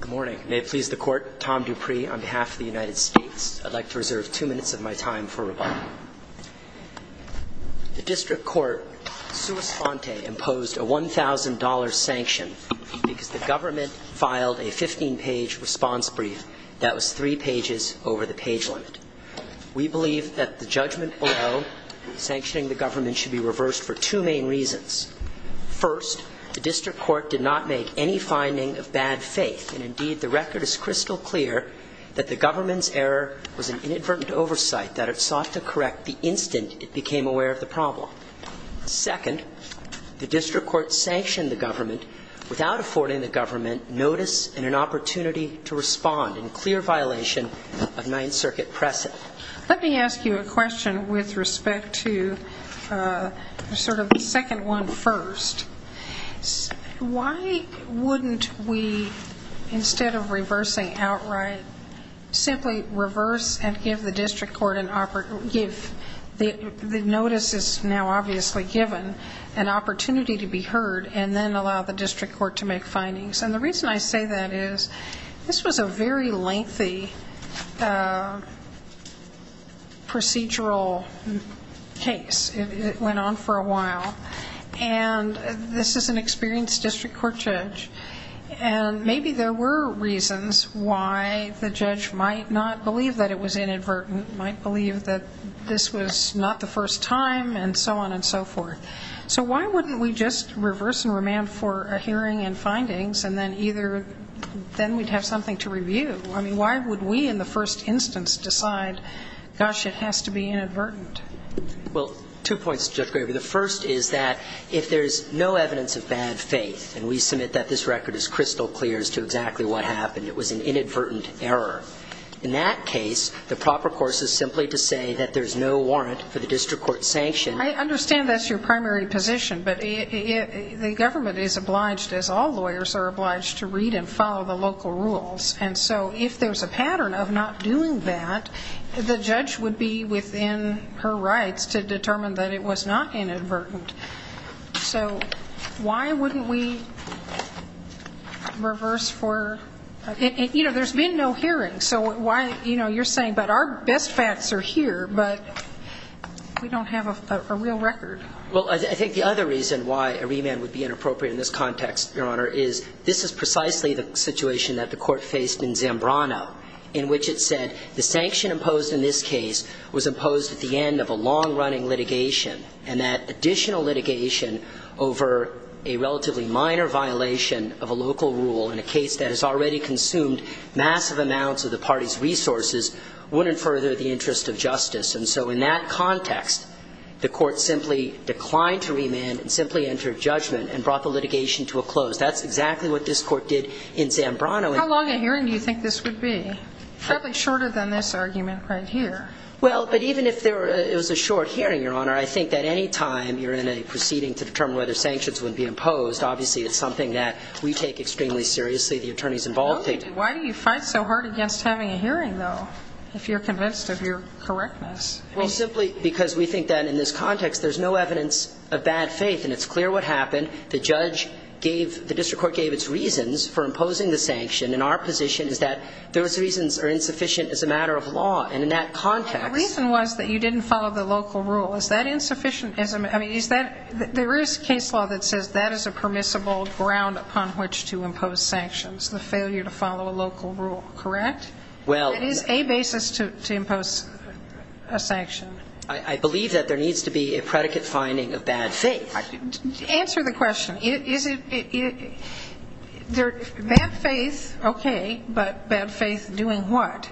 Good morning. May it please the Court, Tom Dupree on behalf of the United States. I'd like to reserve two minutes of my time for rebuttal. The District Court sua sponte imposed a $1,000 sanction because the government filed a 15-page response brief that was three pages over the page limit. We believe that the judgment below sanctioning the government should be reversed for two main reasons. First, the District Court did not make any finding of bad faith, and indeed the record is crystal clear that the government's error was an inadvertent oversight that it sought to correct the instant it became aware of the problem. Second, the District Court sanctioned the government without affording the government notice and an opportunity to respond in clear violation of Ninth Circuit precedent. Let me ask you a question with respect to sort of the second one first. Why wouldn't we, instead of reversing outright, simply reverse and give the notice that's now obviously given an opportunity to be heard and then allow the District Court to make findings? And the reason I say that is this was a very lengthy procedural case. It went on for a while, and this is an experienced District Court judge. And maybe there were reasons why the judge might not believe that it was inadvertent, might believe that this was not the first time, and so on and so forth. So why wouldn't we just reverse and remand for a hearing and findings, and then either then we'd have something to review? I mean, why would we in the first instance decide, gosh, it has to be inadvertent? Well, two points, Judge Graber. The first is that if there's no evidence of bad faith, and we submit that this record is crystal clear as to exactly what happened, it was an inadvertent error. In that case, the proper course is simply to say that there's no warrant for the District Court sanction. I understand that's your primary position, but the government is obliged, as all lawyers are obliged, to read and follow the local rules. And so if there's a pattern of not doing that, the judge would be within her rights to determine that it was not inadvertent. So why wouldn't we reverse for – you know, there's been no hearing, so why – you know, you're saying, but our best facts are here, but we don't have a real record. Well, I think the other reason why a remand would be inappropriate in this context, Your Honor, is this is precisely the situation that the Court faced in Zambrano, in which it said the sanction imposed in this case was imposed at the end of a long-running litigation, and that additional litigation over a relatively minor violation of a local rule in a case that has already consumed massive amounts of the party's resources wouldn't further the interest of justice. And so in that context, the Court simply declined to remand and simply entered judgment and brought the litigation to a close. That's exactly what this Court did in Zambrano. How long a hearing do you think this would be? Probably shorter than this argument right here. Well, but even if it was a short hearing, Your Honor, I think that any time you're in a proceeding to determine whether sanctions would be imposed, obviously it's something that we take extremely seriously, the attorneys involved. Why do you fight so hard against having a hearing, though, if you're convinced of your correctness? Well, simply because we think that in this context there's no evidence of bad faith, and it's clear what happened. The judge gave the district court gave its reasons for imposing the sanction. And our position is that those reasons are insufficient as a matter of law. And in that context the reason was that you didn't follow the local rule. Is that insufficient? I mean, is that there is case law that says that is a permissible ground upon which to impose sanctions, the failure to follow a local rule, correct? Well, it is a basis to impose a sanction. I believe that there needs to be a predicate finding of bad faith. Answer the question. Bad faith, okay, but bad faith doing what?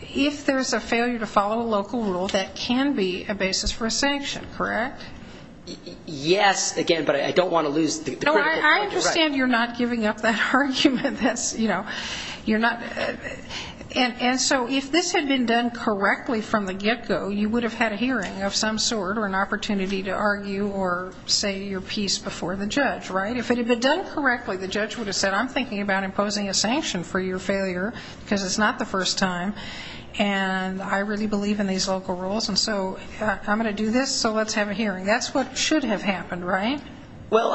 If there's a failure to follow a local rule, that can be a basis for a sanction, correct? Yes, again, but I don't want to lose the critical point. I understand you're not giving up that argument. And so if this had been done correctly from the get-go, you would have had a hearing of some sort or an opportunity to argue or say your piece before the judge, right? If it had been done correctly, the judge would have said, I'm thinking about imposing a sanction for your failure because it's not the first time, and I really believe in these local rules, and so I'm going to do this, so let's have a hearing. That's what should have happened, right? Well,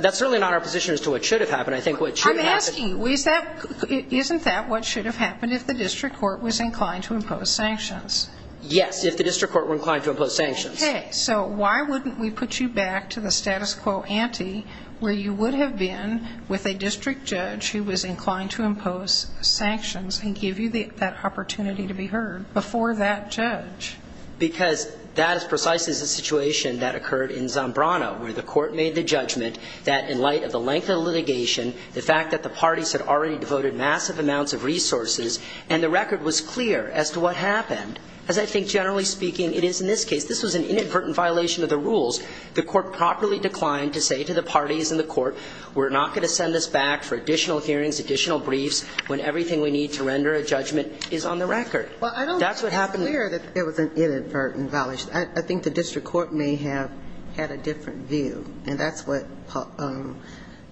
that's certainly not our position as to what should have happened. I'm asking, isn't that what should have happened if the district court was inclined to impose sanctions? Yes, if the district court were inclined to impose sanctions. Okay, so why wouldn't we put you back to the status quo ante, where you would have been with a district judge who was inclined to impose sanctions and give you that opportunity to be heard before that judge? Because that is precisely the situation that occurred in Zambrano, where the court made the judgment that in light of the length of the litigation, the fact that the parties had already devoted massive amounts of resources, and the record was clear as to what happened. As I think, generally speaking, it is in this case. This was an inadvertent violation of the rules. The court properly declined to say to the parties in the court, we're not going to send this back for additional hearings, additional briefs, when everything we need to render a judgment is on the record. Well, I don't think it's clear that it was an inadvertent violation. I think the district court may have had a different view, and that's what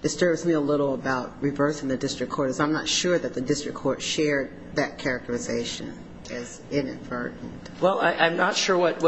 disturbs me a little about reversing the district court, is I'm not sure that the district court shared that characterization as inadvertent. Well, I'm not sure what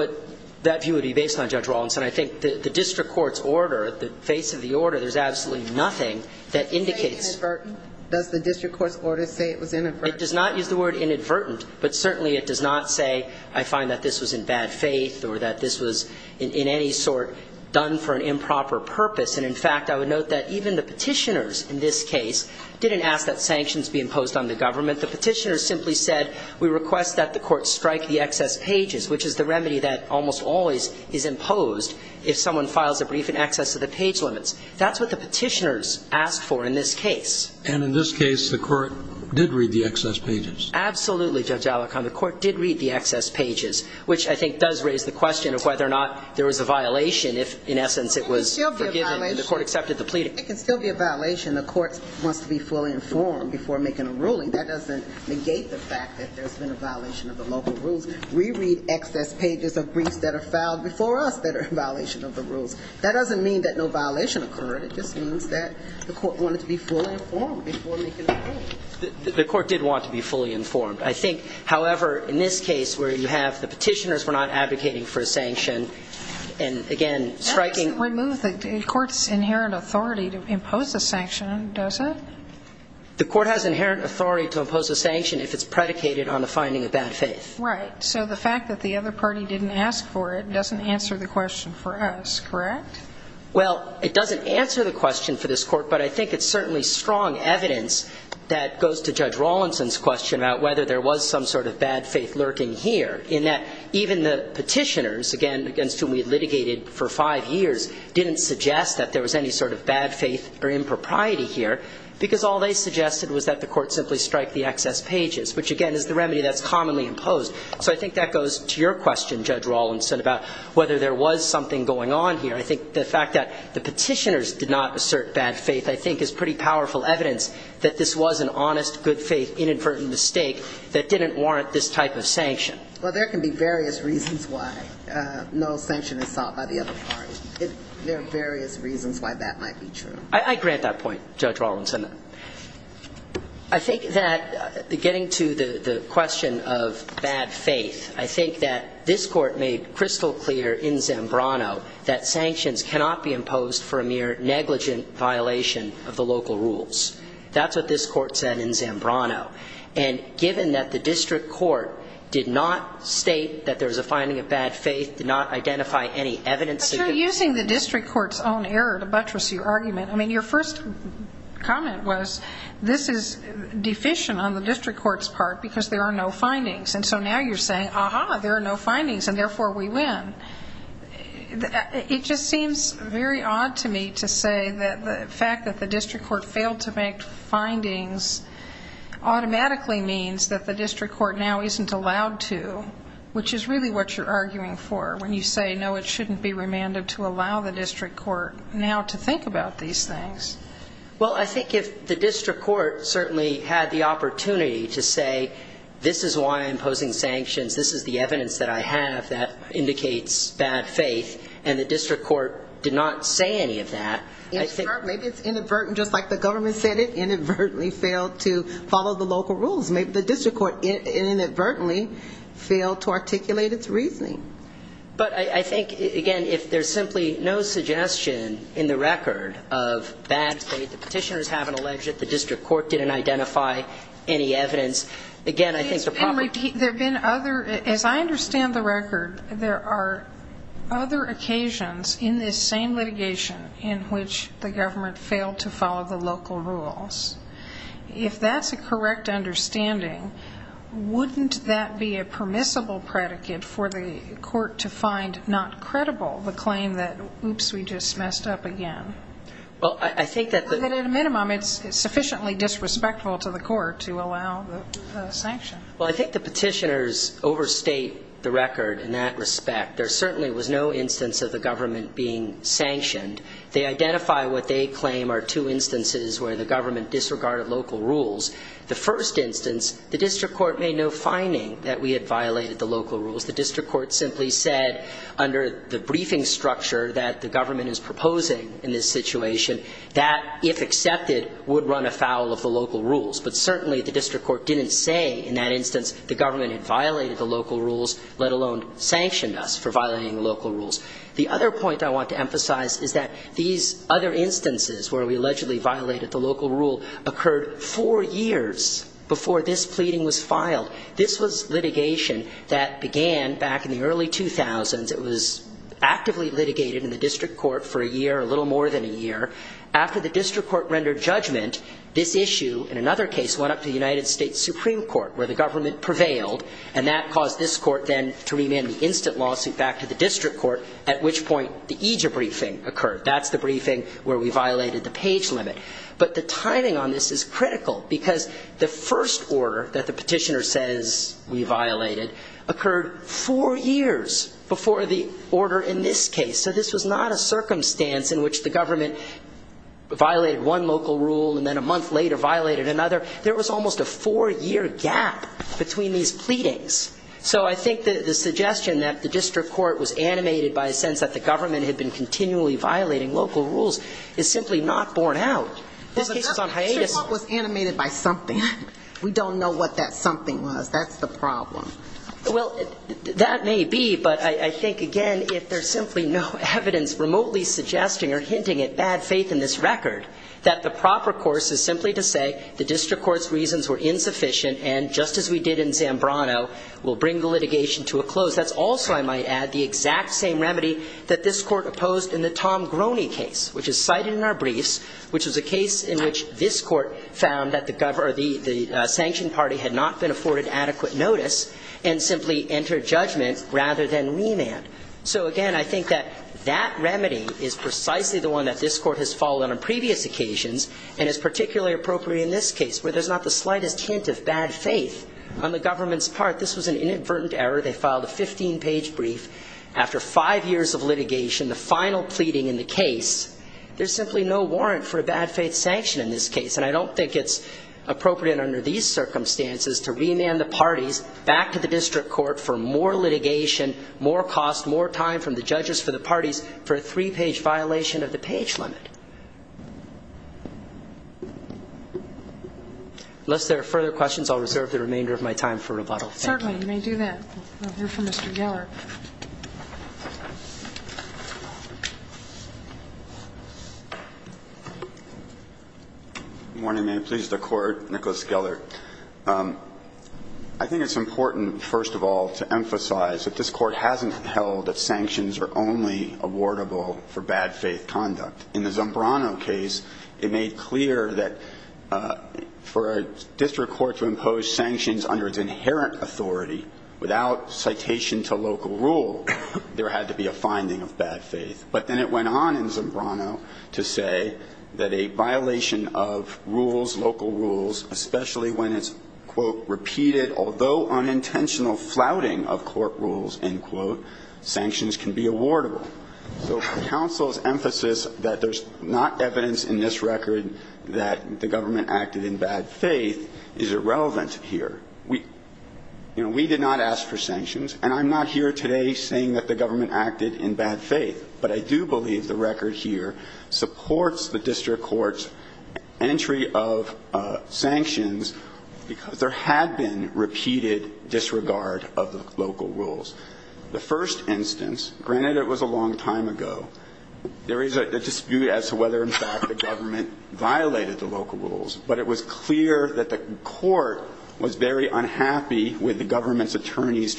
that view would be based on, Judge Rawlinson. I think the district court's order, the face of the order, there's absolutely nothing that indicates. Does it say inadvertent? Does the district court's order say it was inadvertent? It does not use the word inadvertent, but certainly it does not say I find that this was in bad faith or that this was in any sort done for an improper purpose. And, in fact, I would note that even the petitioners in this case didn't ask that sanctions be imposed on the government. The petitioners simply said, we request that the court strike the excess pages, which is the remedy that almost always is imposed if someone files a brief in excess of the page limits. That's what the petitioners asked for in this case. And in this case, the court did read the excess pages. Absolutely, Judge Alicorn. The court did read the excess pages, which I think does raise the question of whether or not there was a violation if, in essence, it was forgiven and the court accepted the plea. It can still be a violation. The court wants to be fully informed before making a ruling. That doesn't negate the fact that there's been a violation of the local rules. We read excess pages of briefs that are filed before us that are a violation of the rules. That doesn't mean that no violation occurred. It just means that the court wanted to be fully informed before making a ruling. The court did want to be fully informed. I think, however, in this case where you have the petitioners who are not advocating for a sanction and, again, striking... That doesn't remove the court's inherent authority to impose a sanction, does it? The court has inherent authority to impose a sanction if it's predicated on a finding of bad faith. Right. So the fact that the other party didn't ask for it doesn't answer the question for us, correct? Well, it doesn't answer the question for this court, but I think it's certainly strong evidence that goes to Judge Rawlinson's question about whether there was some sort of bad faith lurking here in that even the petitioners, again, against whom we litigated for five years, didn't suggest that there was any sort of bad faith or impropriety here because all they suggested was that the court simply strike the excess pages, which, again, is the remedy that's commonly imposed. So I think that goes to your question, Judge Rawlinson, about whether there was something going on here. I think the fact that the petitioners did not assert bad faith I think is pretty powerful evidence that this was an honest, good faith, inadvertent mistake that didn't warrant this type of sanction. Well, there can be various reasons why no sanction is sought by the other party. There are various reasons why that might be true. I grant that point, Judge Rawlinson. I think that getting to the question of bad faith, I think that this Court made crystal clear in Zambrano that sanctions cannot be imposed for a mere negligent violation of the local rules. That's what this Court said in Zambrano. And given that the district court did not state that there was a finding of bad faith, did not identify any evidence that could... But you're using the district court's own error to buttress your argument. I mean, your first comment was, this is deficient on the district court's part because there are no findings. And so now you're saying, Aha, there are no findings, and therefore we win. It just seems very odd to me to say that the fact that the district court failed to make findings automatically means that the district court now isn't allowed to, which is really what you're arguing for when you say, no, it shouldn't be remanded to allow the district court now to think about these things. Well, I think if the district court certainly had the opportunity to say, this is why I'm posing sanctions, this is the evidence that I have that indicates bad faith, and the district court did not say any of that... Maybe it's inadvertent, just like the government said it, inadvertently failed to follow the local rules. Maybe the district court inadvertently failed to articulate its reasoning. But I think, again, if there's simply no suggestion in the record of bad faith, the petitioners haven't alleged that the district court didn't identify any evidence, again, I think the problem... As I understand the record, there are other occasions in this same litigation in which the government failed to follow the local rules. If that's a correct understanding, wouldn't that be a permissible predicate for the court to find not credible the claim that, oops, we just messed up again? Well, I think that... At a minimum, it's sufficiently disrespectful to the court to allow the sanction. Well, I think the petitioners overstate the record in that respect. There certainly was no instance of the government being sanctioned. They identify what they claim are two instances where the government disregarded local rules. The first instance, the district court made no finding that we had violated the local rules. The district court simply said, under the briefing structure that the government is proposing in this situation, that, if accepted, would run afoul of the local rules. But certainly the district court didn't say in that instance the government had violated the local rules, let alone sanctioned us for violating the local rules. The other point I want to emphasize is that these other instances where we allegedly violated the local rule occurred four years before this pleading was filed. This was litigation that began back in the early 2000s. It was actively litigated in the district court for a year, a little more than a year. After the district court rendered judgment, this issue, in another case, went up to the United States Supreme Court, where the government prevailed, and that caused this court then to remand the instant lawsuit back to the district court, at which point the EJIA briefing occurred. That's the briefing where we violated the page limit. But the timing on this is critical because the first order that the petitioner says we violated occurred four years before the order in this case. So this was not a circumstance in which the government violated one local rule and then a month later violated another. There was almost a four-year gap between these pleadings. So I think the suggestion that the district court was animated by a sense that the government had been continually violating local rules is simply not borne out. This case was on hiatus. It was animated by something. We don't know what that something was. That's the problem. Well, that may be, but I think, again, if there's simply no evidence remotely suggesting or hinting at bad faith in this record, that the proper course is simply to say the district court's reasons were insufficient and, just as we did in Zambrano, will bring the litigation to a close. That's also, I might add, the exact same remedy that this court opposed in the Tom Groney case, which is cited in our briefs, which was a case in which this court found that the sanctioned party had not been afforded adequate notice and simply entered judgment rather than remand. So, again, I think that that remedy is precisely the one that this court has followed on previous occasions and is particularly appropriate in this case, where there's not the slightest hint of bad faith on the government's part. This was an inadvertent error. They filed a 15-page brief. After five years of litigation, the final pleading in the case, there's simply no warrant for a bad faith sanction in this case. And I don't think it's appropriate under these circumstances to remand the parties back to the district court for more litigation, more cost, more time from the judges for the parties for a three-page violation of the page limit. Unless there are further questions, I'll reserve the remainder of my time for rebuttal. Thank you. Certainly, you may do that. We'll hear from Mr. Geller. Good morning. May it please the Court. Nicholas Geller. I think it's important, first of all, to emphasize that this court hasn't held that sanctions are only awardable for bad faith conduct. In the Zombrano case, it made clear that for a district court to impose sanctions under its inherent authority without citation to local rule, there had to be a finding of bad faith. But then it went on in Zombrano to say that a violation of rules, local rules, especially when it's, quote, repeated although unintentional flouting of court rules, end quote, sanctions can be awardable. So counsel's emphasis that there's not evidence in this record that the government acted in bad faith is irrelevant here. We, you know, we did not ask for sanctions. And I'm not here today saying that the government acted in bad faith. But I do believe the record here supports the district court's entry of sanctions because there had been repeated disregard of the local rules. The first instance, granted it was a long time ago, there is a dispute as to whether in fact the government violated the local rules. But it was clear that the court was very unhappy with the government's attorney's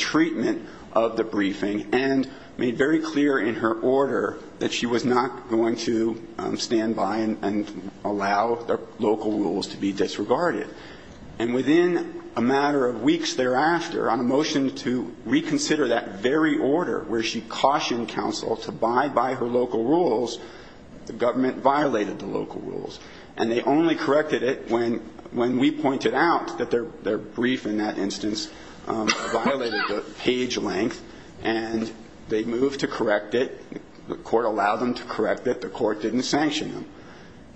and made very clear in her order that she was not going to stand by and allow the local rules to be disregarded. And within a matter of weeks thereafter, on a motion to reconsider that very order where she cautioned counsel to abide by her local rules, the government violated the local rules. And they only corrected it when we pointed out that their brief in that instance violated the page length. And they moved to correct it. The court allowed them to correct it. The court didn't sanction them.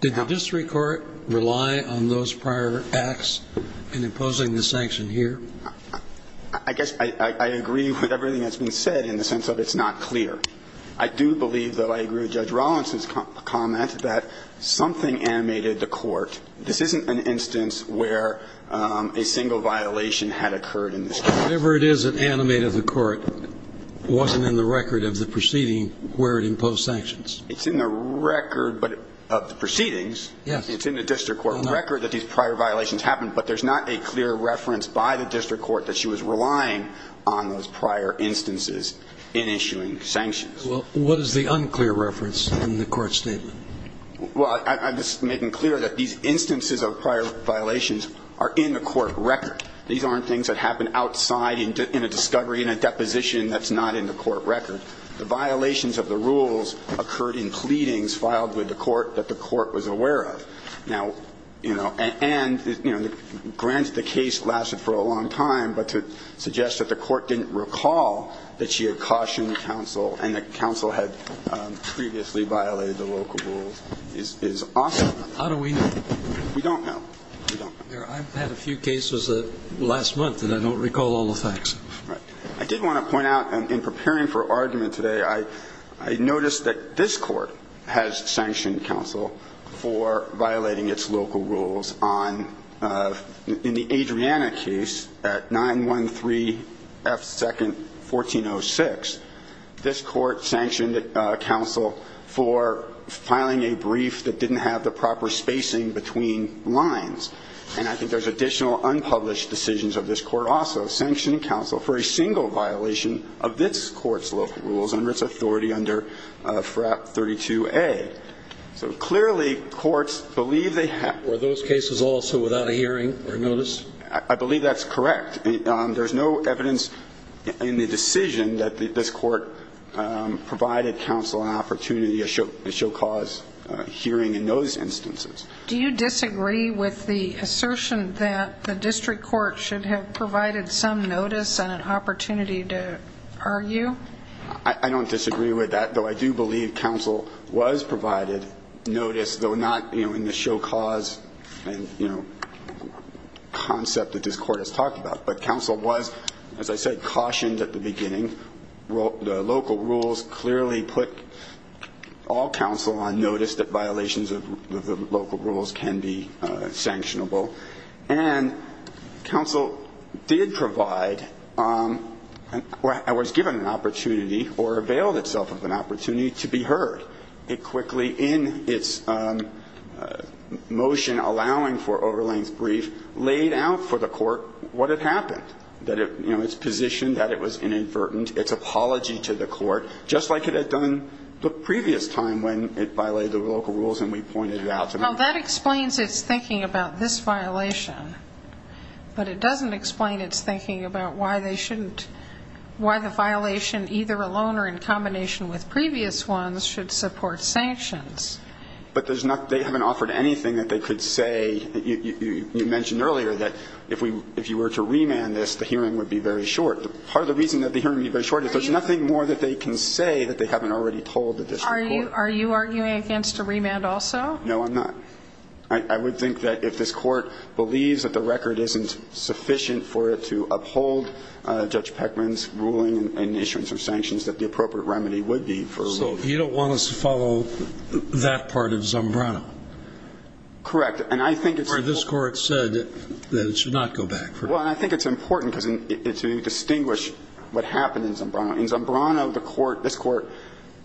Did the district court rely on those prior acts in imposing the sanction here? I guess I agree with everything that's been said in the sense that it's not clear. I do believe that I agree with Judge Rawlinson's comment that something animated the court. This isn't an instance where a single violation had occurred in this case. Whatever it is that animated the court wasn't in the record of the proceeding where it imposed sanctions. It's in the record of the proceedings. It's in the district court record that these prior violations happened. But there's not a clear reference by the district court that she was relying on those prior instances in issuing sanctions. Well, what is the unclear reference in the court statement? Well, I'm just making clear that these instances of prior violations are in the court record. These aren't things that happen outside in a discovery, in a deposition that's not in the court record. The violations of the rules occurred in pleadings filed with the court that the court was aware of. Now, you know, and, you know, granted the case lasted for a long time, but to suggest that the court didn't recall that she had cautioned counsel and that is awesome. How do we know? We don't know. We don't know. I've had a few cases last month that I don't recall all the facts of. Right. I did want to point out, in preparing for argument today, I noticed that this court has sanctioned counsel for violating its local rules on, in the Adriana case at 913 F. 2nd, 1406. This court sanctioned counsel for filing a brief that didn't have the proper spacing between lines. And I think there's additional unpublished decisions of this court also. Sanctioned counsel for a single violation of this court's local rules under its authority under FRAP 32A. So clearly courts believe they have. Were those cases also without a hearing or notice? I believe that's correct. There's no evidence in the decision that this court provided counsel an opportunity, a show cause hearing in those instances. Do you disagree with the assertion that the district court should have provided some notice and an opportunity to argue? I don't disagree with that. Though I do believe counsel was provided notice, though not in the show cause and, you know, concept that this court has talked about. But counsel was, as I said, cautioned at the beginning. The local rules clearly put all counsel on notice that violations of the local rules can be sanctionable. And counsel did provide, or was given an opportunity or availed itself of an opportunity to be heard. It quickly, in its motion allowing for over-length brief, laid out for the court what had happened, that it, you know, its position that it was inadvertent, its apology to the court, just like it had done the previous time when it violated the local rules and we pointed it out. Well, that explains its thinking about this violation. But it doesn't explain its thinking about why they shouldn't, why the violation either alone or in combination with previous ones should support sanctions. But they haven't offered anything that they could say. You mentioned earlier that if you were to remand this, the hearing would be very short. Part of the reason that the hearing would be very short is there's nothing more that they can say that they haven't already told the district court. Are you arguing against a remand also? No, I'm not. I would think that if this court believes that the record isn't sufficient for it to uphold Judge Peckman's ruling and issuance of sanctions, that the appropriate remedy would be for a remand. So you don't want us to follow that part of Zambrano? Correct. And I think it's important. So this court said that it should not go back. Well, I think it's important to distinguish what happened in Zambrano. In Zambrano, the court, this court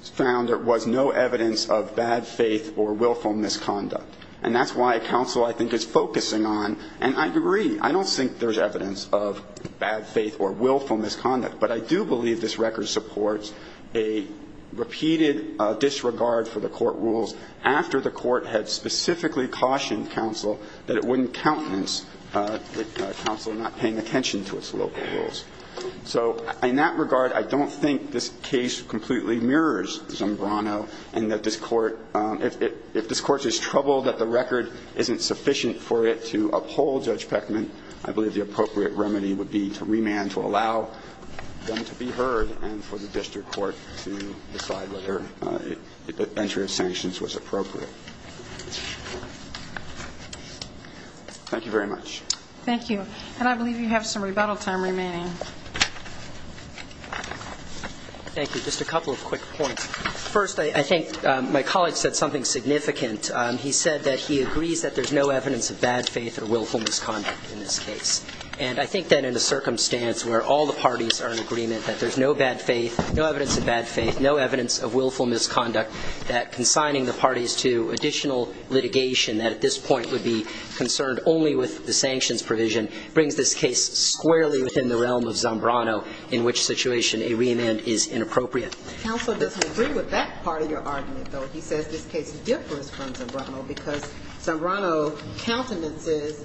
found there was no evidence of bad faith or willful misconduct. And that's why counsel, I think, is focusing on, and I agree, I don't think there's evidence of bad faith or willful misconduct. But I do believe this record supports a repeated disregard for the court rules after the court had specifically cautioned counsel that it wouldn't countenance counsel not paying attention to its local rules. So in that regard, I don't think this case completely mirrors Zambrano, and that this court, if this court is troubled that the record isn't sufficient for it to allow them to be heard and for the district court to decide whether entry of sanctions was appropriate. Thank you very much. Thank you. And I believe you have some rebuttal time remaining. Thank you. Just a couple of quick points. First, I think my colleague said something significant. He said that he agrees that there's no evidence of bad faith or willful misconduct in this case. And I think that in a circumstance where all the parties are in agreement that there's no bad faith, no evidence of bad faith, no evidence of willful misconduct, that consigning the parties to additional litigation that at this point would be concerned only with the sanctions provision brings this case squarely within the realm of Zambrano in which situation a reamend is inappropriate. Counsel doesn't agree with that part of your argument, though. He says this case differs from Zambrano because Zambrano countenances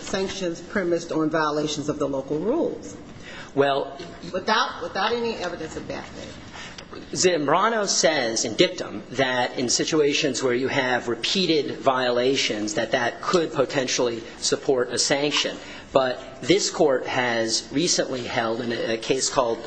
sanctions premised on violations of the local rules without any evidence of bad faith. Zambrano says in dictum that in situations where you have repeated violations that that could potentially support a sanction. But this court has recently held in a case called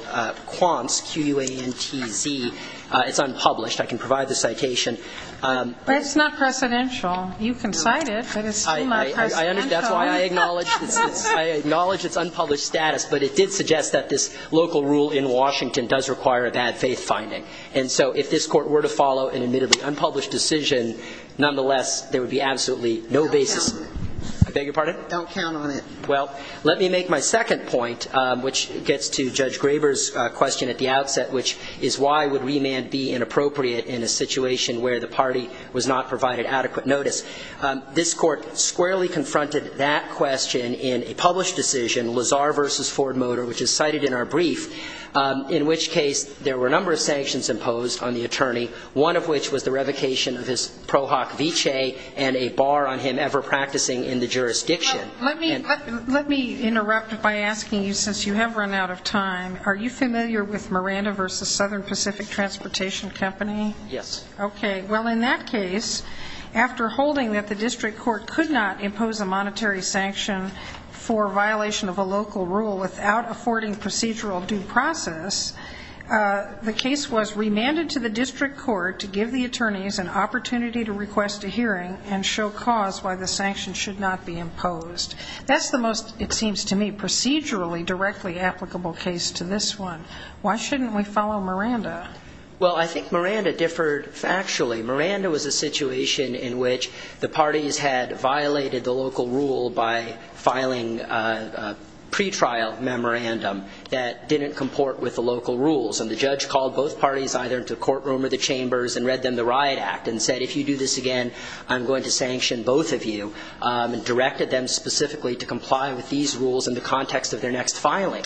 Quantz, Q-U-A-N-T-Z. It's unpublished. I can provide the citation. But it's not precedential. You can cite it. That's why I acknowledge its unpublished status. But it did suggest that this local rule in Washington does require a bad faith finding. And so if this court were to follow an admittedly unpublished decision, nonetheless, there would be absolutely no basis. I beg your pardon? Don't count on it. Well, let me make my second point, which gets to Judge Graber's question at the outset, which is why would reamend be inappropriate in a situation where the party was not provided adequate notice? This court squarely confronted that question in a published decision, Lazar v. Ford Motor, which is cited in our brief, in which case there were a number of sanctions imposed on the attorney, one of which was the revocation of his pro hoc viche and a bar on him ever practicing in the jurisdiction. Let me interrupt by asking you, since you have run out of time, are you familiar with Miranda v. Southern Pacific Transportation Company? Yes. Okay. Well, in that case, after holding that the district court could not impose a monetary sanction for violation of a local rule without affording procedural due process, the case was remanded to the district court to give the attorneys an opportunity to request a hearing and show cause why the sanction should not be imposed. That's the most, it seems to me, procedurally directly applicable case to this one. Why shouldn't we follow Miranda? Well, I think Miranda differed factually. Miranda was a situation in which the parties had violated the local rule by filing a pretrial memorandum that didn't comport with the local rules. And the judge called both parties either into the courtroom or the chambers and read them the riot act and said, if you do this again, I'm going to sanction both of you, and directed them specifically to comply with these rules in the context of their next filing.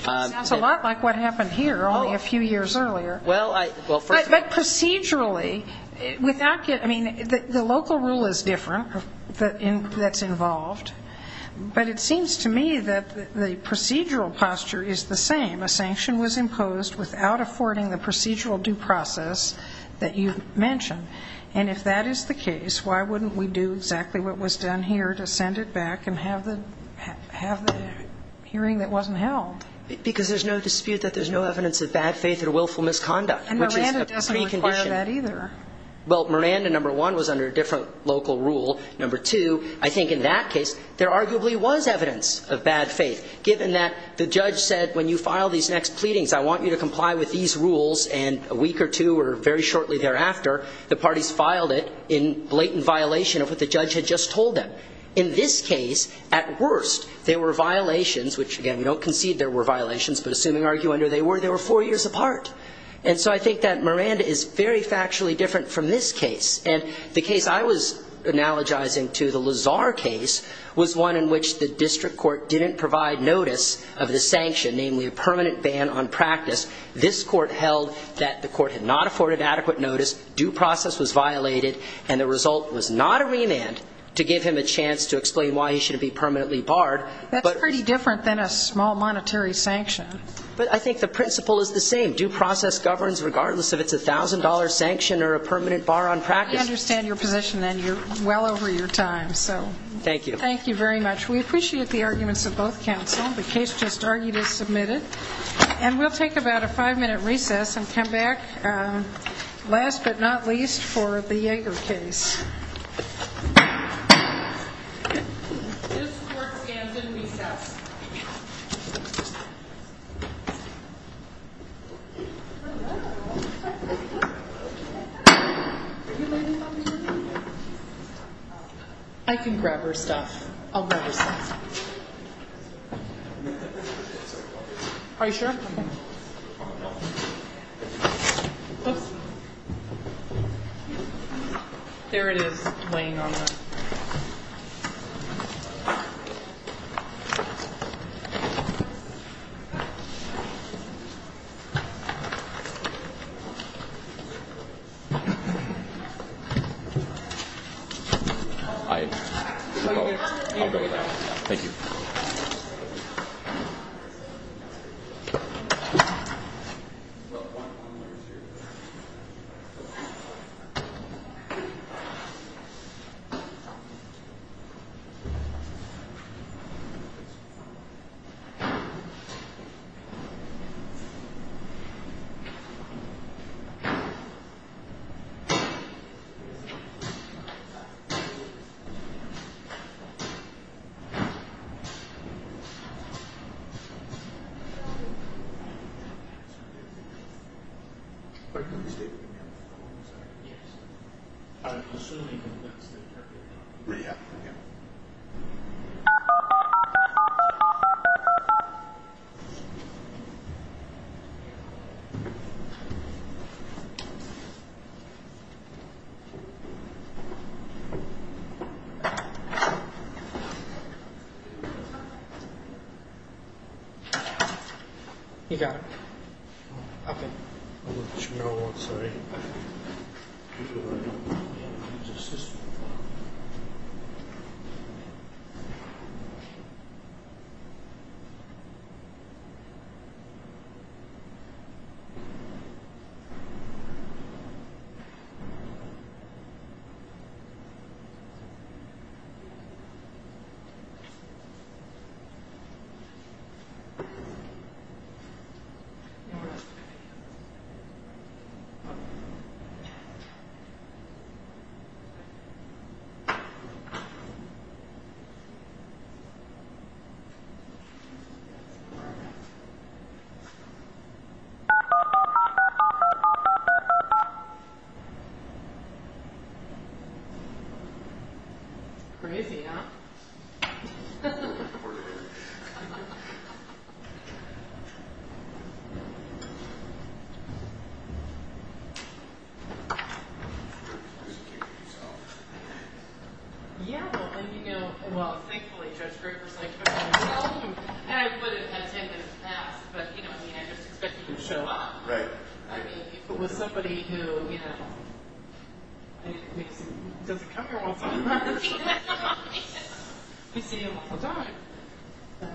Sounds a lot like what happened here only a few years earlier. But procedurally, without getting, I mean, the local rule is different that's involved, but it seems to me that the procedural posture is the same. A sanction was imposed without affording the procedural due process that you mentioned. And if that is the case, why wouldn't we do exactly what was done here to have the hearing that wasn't held? Because there's no dispute that there's no evidence of bad faith or willful misconduct. And Miranda doesn't require that either. Well, Miranda, number one, was under a different local rule. Number two, I think in that case, there arguably was evidence of bad faith, given that the judge said, when you file these next pleadings, I want you to comply with these rules. And a week or two or very shortly thereafter, the parties filed it in blatant violation of what the judge had just told them. In this case, at worst, there were violations, which, again, we don't concede there were violations, but assuming argue under they were, they were four years apart. And so I think that Miranda is very factually different from this case. And the case I was analogizing to, the Lazar case, was one in which the district court didn't provide notice of the sanction, namely a permanent ban on practice. This court held that the court had not afforded adequate notice, due process was a chance to explain why he should be permanently barred. That's pretty different than a small monetary sanction. But I think the principle is the same. Due process governs regardless if it's a $1,000 sanction or a permanent bar on practice. I understand your position, and you're well over your time. Thank you. Thank you very much. We appreciate the arguments of both counsel. The case just argued is submitted. And we'll take about a five-minute recess and come back, last but not least, for the Yeager case. This court stands in recess. I can grab her stuff. I'll grab her stuff. Are you sure? Okay. Oops. There it is, laying on the floor. I'll go with that. Thank you. I'll go with that. Okay. I'll go with that. Thank you. Thank you. You got it. Okay. No, I'm sorry. Thank you. All right. Crazy, huh? Yeah. Yeah. Yeah. Well, you know, well, thankfully, Judge Greer was like, I would have had 10 minutes past. But, you know, I mean, I just expected you to show up. Right. I mean, if it was somebody who, you know, doesn't come here all the time. I see him all the time. Yeah.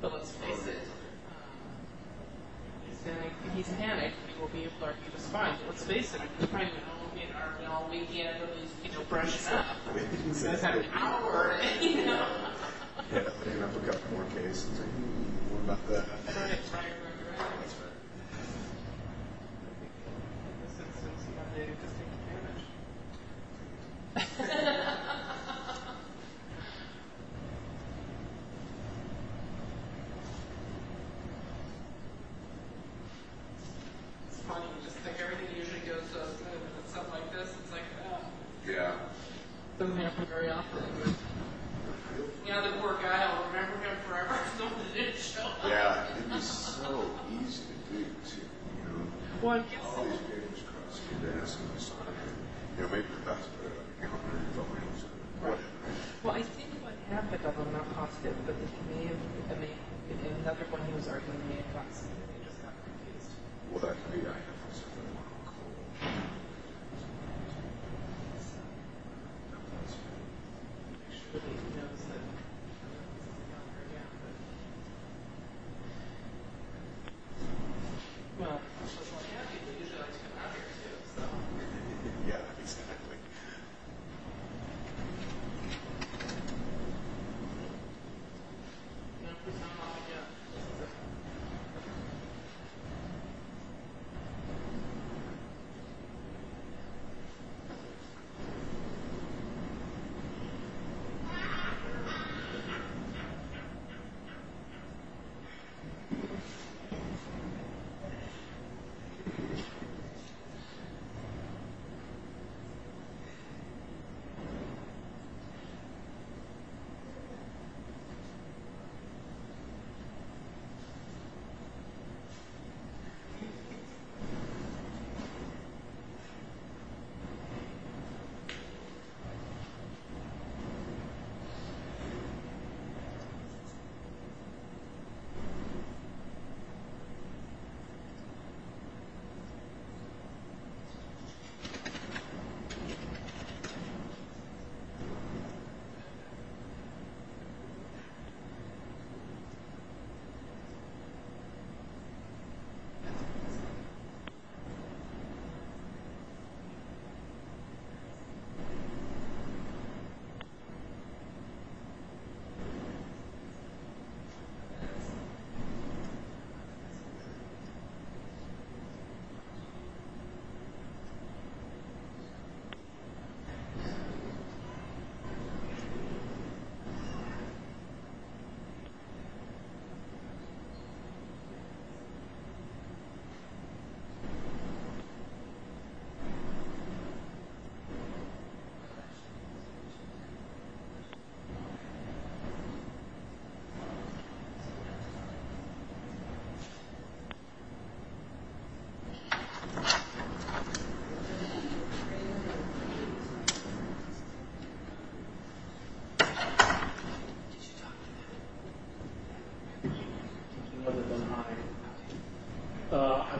But let's face it, he's panicked. He will be able to argue just fine. But let's face it, he's pregnant. He'll brush it up. You guys have an hour. You know? What about that? That's right. Yeah. Yeah. Yeah. Well, I guess so. Right. Well, I mean, well, yeah, exactly. Yeah. Yeah. Yeah. Yeah. Yeah. Yeah. Yeah. Yeah. Yeah. I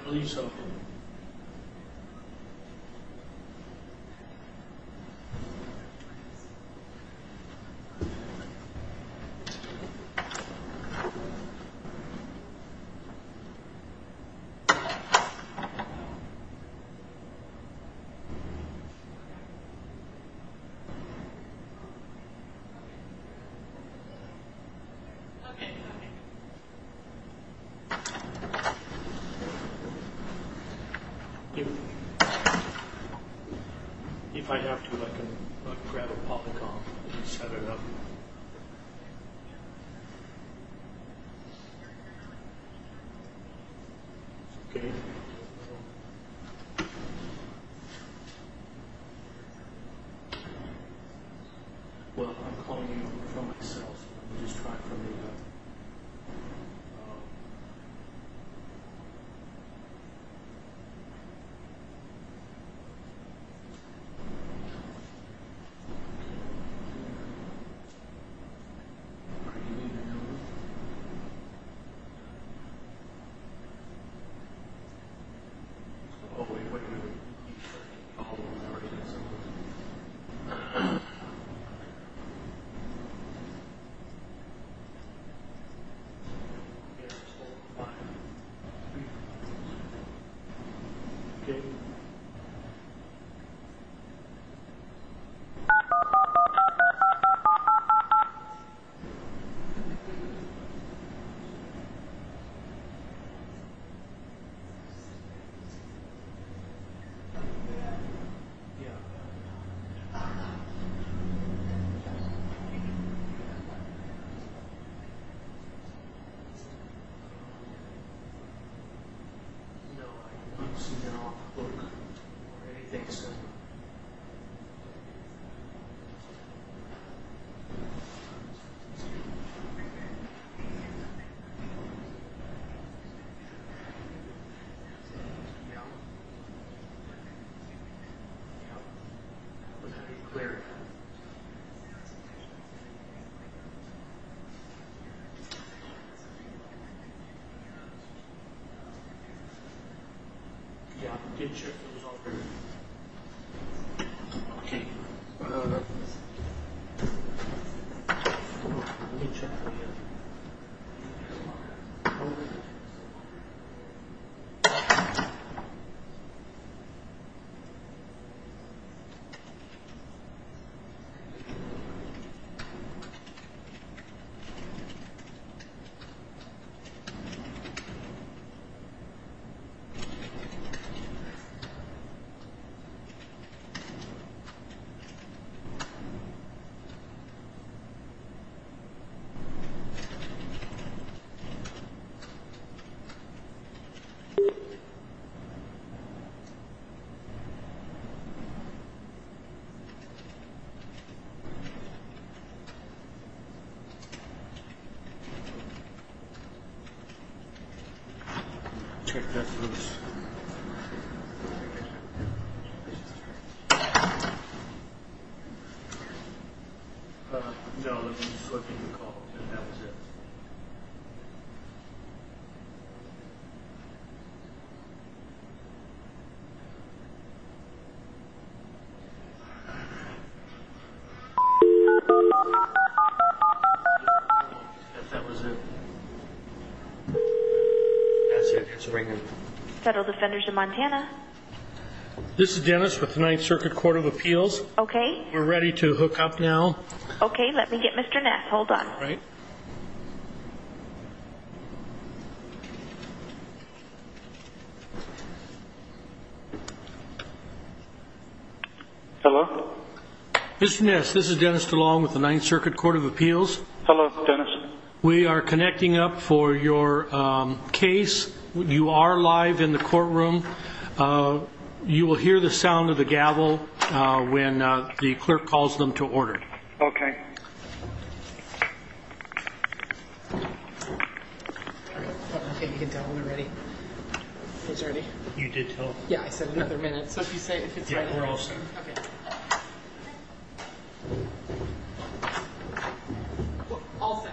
believe so. Yes. Okay. Okay. Okay. If I have to, I can grab a popcorn and set it up. Okay. Okay. Well, I'm calling in from myself. I'm just trying to figure out. Are you in the room? Oh, wait. Okay. Yeah. No, I don't see that. I'll look. Okay. Thanks. Yeah. Clear. Yeah, did you? It was all three. Oh, no, no. Let me check for you. Okay. Yeah. Okay. Okay, that's loose. Okay. Uh, no, I was just flipping the call. Yeah, that was it. That's it. It's ringing. Federal Defenders of Montana. This is Dennis with the Ninth Circuit Court of Appeals. Okay. We're ready to hook up now. Okay, let me get Mr. Ness. Okay. Okay. Okay. Okay. Okay. Okay. Okay. Okay. Okay. Okay. Okay. Okay. Okay. Okay. Mr. Ness. This is Dennis Talon with the Ninth Circuit Court of Appeals. Hello, Dennis. We are connecting up for your case. You are live in the courtroom. You will hear the sound of the gavel when the clerk calls them to order. Okay. Okay, you can tell when we're ready. It's ready. You did tell. Yeah, I said another minute. So if you say if it's ready, we're all set. Okay. All set. Thank you.